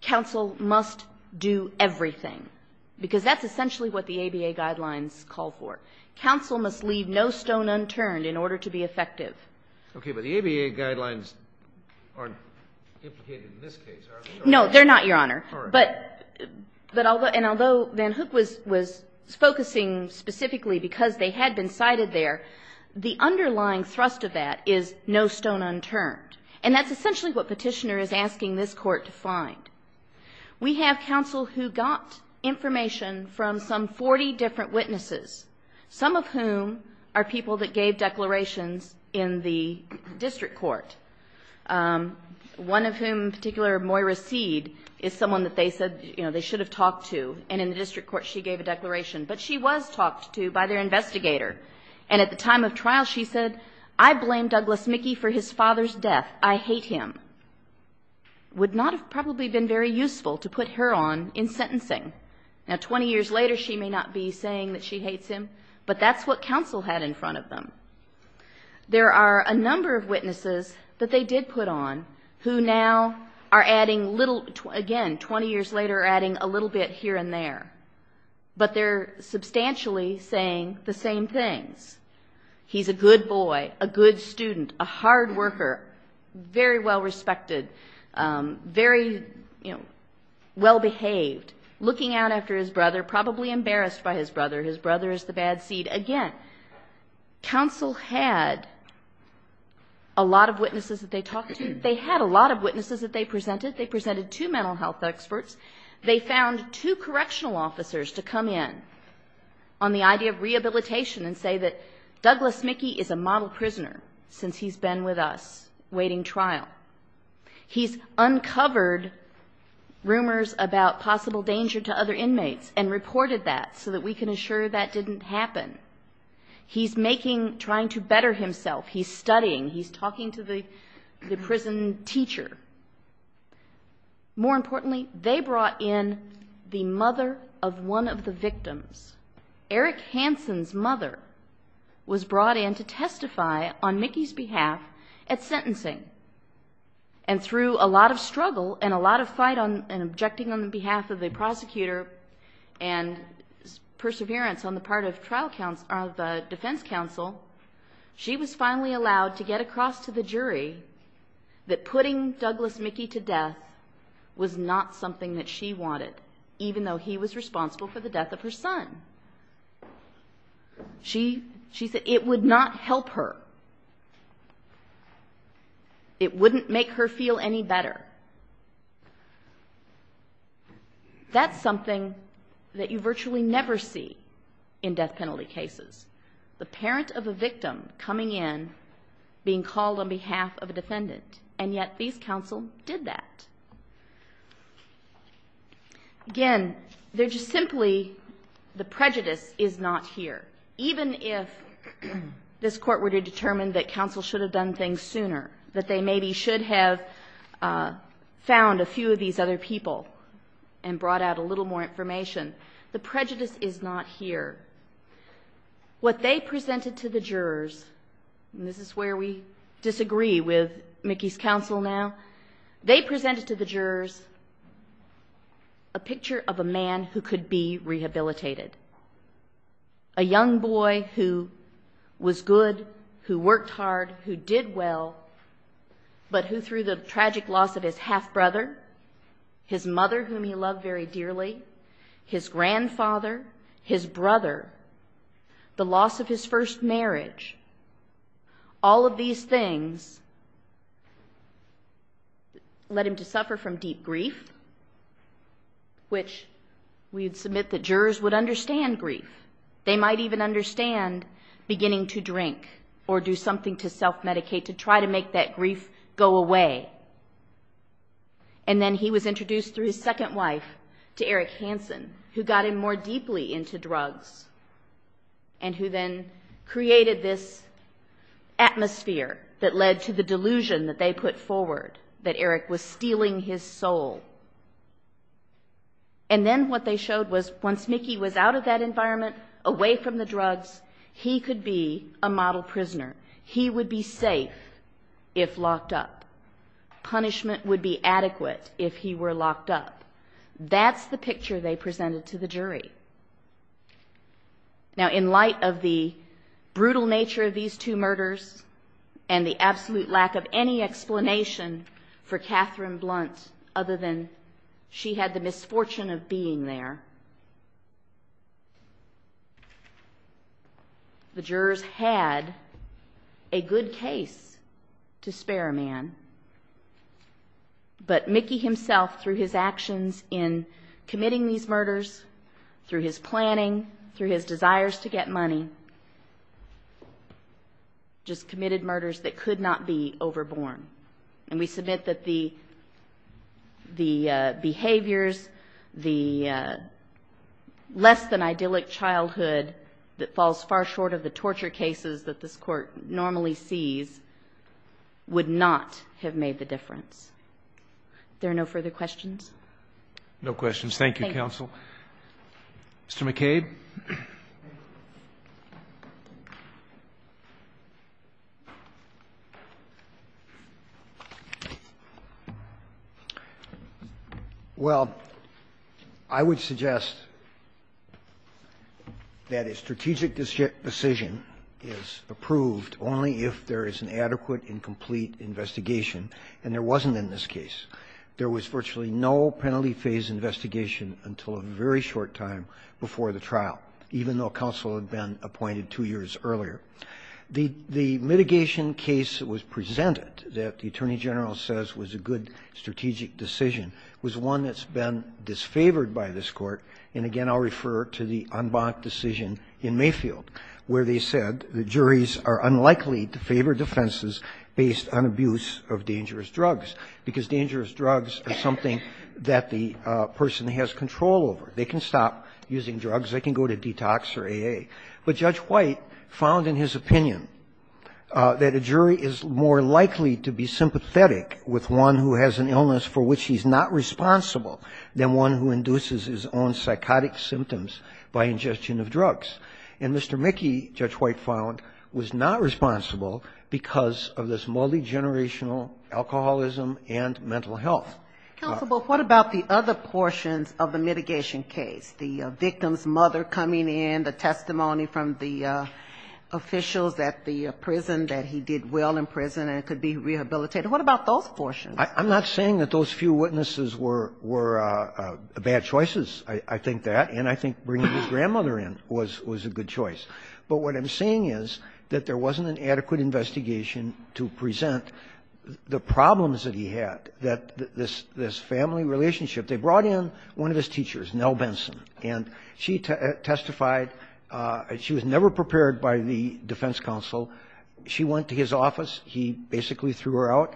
counsel must do everything, because that's essentially what the ABA guidelines call for. Counsel must leave no stone unturned in order to be effective. Okay, but the ABA guidelines aren't implicated in this case, are they? No, they're not, Your Honor. But, and although Van Hook was focusing specifically because they had been cited there, the underlying thrust of that is no stone unturned. And that's essentially what Petitioner is asking this Court to find. We have counsel who got information from some 40 different witnesses, some of whom are people that gave declarations in the district court, one of whom in particular, Moira Seed, is someone that they said, you know, they should have talked to. And in the district court, she gave a declaration. But she was talked to by their investigator. And at the time of trial, she said, I blame Douglas Mickey for his father's death. I hate him. Would not have probably been very useful to put her on in sentencing. Now, 20 years later, she may not be saying that she hates him, but that's what counsel had in front of them. There are a number of witnesses that they did put on who now are adding little, again, 20 years later, adding a little bit here and there. But they're substantially saying the same things. He's a good boy, a good student, a hard worker, very well respected, very, you know, well behaved. Looking out after his brother, probably embarrassed by his brother. His brother is the bad seed. Again, counsel had a lot of witnesses that they talked to. They had a lot of witnesses that they presented. They presented two mental health experts. They found two correctional officers to come in on the idea of rehabilitation and say that Douglas Mickey is a model prisoner since he's been with us waiting trial. He's uncovered rumors about possible danger to other inmates and reported that so that we can assure that didn't happen. He's making, trying to better himself. He's studying. He's talking to the prison teacher. More importantly, they brought in the mother of one of the victims. Eric Hansen's mother was brought in to testify on Mickey's behalf at sentencing. And through a lot of struggle and a lot of fight and objecting on behalf of the prosecutor and perseverance on the part of the defense counsel, she was finally allowed to get across to the jury that putting Douglas Mickey to death was not something that she wanted, even though he was responsible for the death of her son. She said it would not help her. It wouldn't make her feel any better. That's something that you virtually never see in death penalty cases. The parent of a victim coming in, being called on behalf of a defendant, and yet these counsel did that. Again, they're just simply, the prejudice is not here. Even if this court were to determine that counsel should have done things sooner, that they maybe should have found a few of these other people and brought out a little more information, the prejudice is not here. What they presented to the jurors, and this is where we disagree with Mickey's counsel now, they presented to the jurors a picture of a man who could be rehabilitated. A young boy who was good, who worked hard, who did well, but who through the tragic loss of his half-brother, his mother, whom he loved very dearly, his grandfather, his brother, the loss of his first marriage, all of these things led him to grief, which we'd submit that jurors would understand grief. They might even understand beginning to drink or do something to self-medicate to try to make that grief go away. And then he was introduced through his second wife to Eric Hansen, who got him more deeply into drugs, and who then created this atmosphere that led to the delusion that they put forward, that Eric was stealing his soul. And then what they showed was once Mickey was out of that environment, away from the drugs, he could be a model prisoner. He would be safe if locked up. Punishment would be adequate if he were locked up. That's the picture they presented to the jury. Now, in light of the brutal nature of these two murders and the absolute lack of any explanation for Catherine Blunt other than she had the misfortune of being there, the jurors had a good case to spare a man. But Mickey himself, through his actions in committing these murders, through his planning, through his desires to get money, just committed murders that could not be overborne. The behaviors, the less-than-idyllic childhood that falls far short of the torture cases that this Court normally sees would not have made the difference. Are there no further questions? No questions. Thank you, Counsel. Well, I would suggest that a strategic decision is approved only if there is an adequate and complete investigation, and there wasn't in this case. There was virtually no penalty phase investigation until a very short time before the trial, even though counsel had been appointed two years earlier. The mitigation case was presented that the Attorney General says was a good strategic decision. It was one that's been disfavored by this Court, and again, I'll refer to the unblocked decision in Mayfield, where they said the juries are unlikely to favor defenses based on abuse of dangerous drugs, because dangerous drugs are something that the person has control over. They can stop using drugs. They can go to detox or AA. But Judge White found in his opinion that a jury is more likely to be sympathetic with one who has an illness for which he's not responsible than one who induces his own psychotic symptoms by ingestion of drugs. And Mr. Mickey, Judge White found, was not responsible because of this multigenerational alcoholism and mental health. Counsel, but what about the other portions of the mitigation case, the victim's mother coming in, the testimony from the officials at the prison that he did well in prison and could be rehabilitated? What about those portions? I'm not saying that those few witnesses were bad choices, I think that, and I think bringing his grandmother in was a good choice. But what I'm saying is that there wasn't an adequate investigation to present the problems that he had, that this family relationship. They brought in one of his teachers, Nell Benson, and she testified. She was never prepared by the defense counsel. She went to his office. He basically threw her out.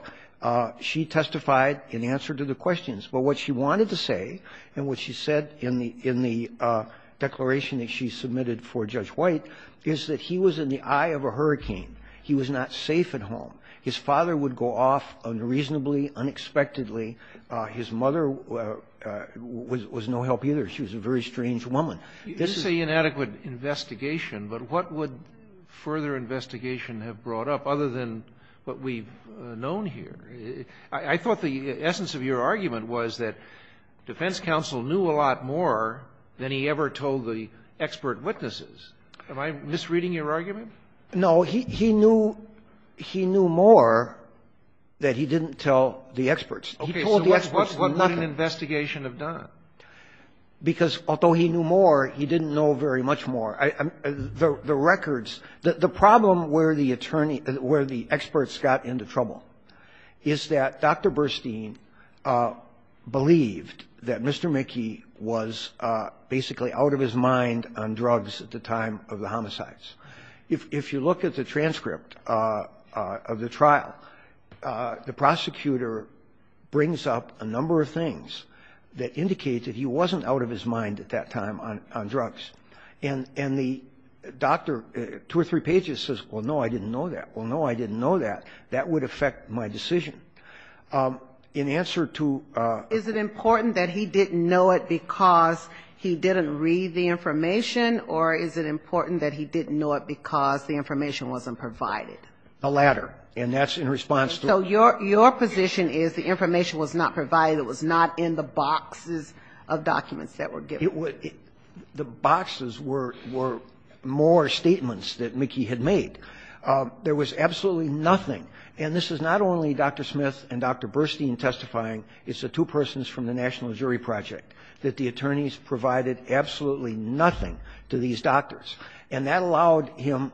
She testified in answer to the questions, but what she wanted to say and what she said in the declaration that she submitted for Judge White is that he was in the eye of a hurricane. He was not safe at home. His father would go off unreasonably, unexpectedly. His mother was no help either. She was a very strange woman. This is an inadequate investigation, but what would further investigation have brought up other than what we've known here? I thought the essence of your argument was that defense counsel knew a lot more than he ever told the expert witnesses. Am I misreading your argument? No, he knew more that he didn't tell the experts. Okay, so what would an investigation have done? Because although he knew more, he didn't know very much more. The records, the problem where the attorney, where the experts got into trouble is that Dr. Burstein believed that Mr. McKee was basically out of his mind on drugs at the time of the homicides. If you look at the transcript of the trial, the prosecutor brings up a number of things that indicate that he wasn't out of his mind at that time on drugs. And the doctor, two or three pages, says, well, no, I didn't know that. Well, no, I didn't know that. That would affect my decision. Is it important that he didn't know it because he didn't read the information, or is it important that he didn't know it because the information wasn't provided? The latter, and that's in response to the other. So your position is the information was not provided, it was not in the boxes of documents that were given? The boxes were more statements that McKee had made. There was absolutely nothing, and this is not only Dr. Smith and Dr. Burstein testifying, it's the two persons from the National Jury Project, that the attorneys provided absolutely nothing to these doctors. And that allowed him,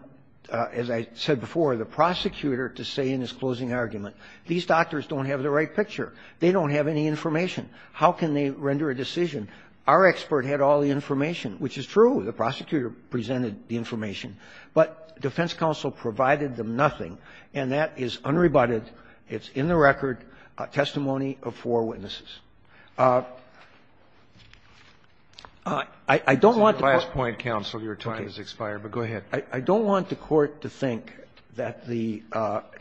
as I said before, the prosecutor to say in his closing argument, these doctors don't have the right picture. They don't have any information. How can they render a decision? Our expert had all the information, which is true. The prosecutor presented the information. But defense counsel provided them nothing, and that is unrebutted, it's in the record testimony of four witnesses. I don't want to court to think that the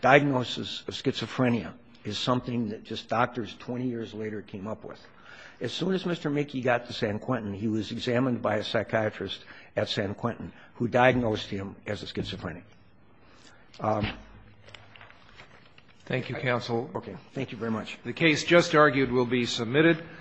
diagnosis of schizophrenia is something that just doctors 20 years later came up with. As soon as Mr. McKee got to San Quentin, he was examined by a psychiatrist at San Quentin who diagnosed him as a schizophrenic. Thank you, counsel.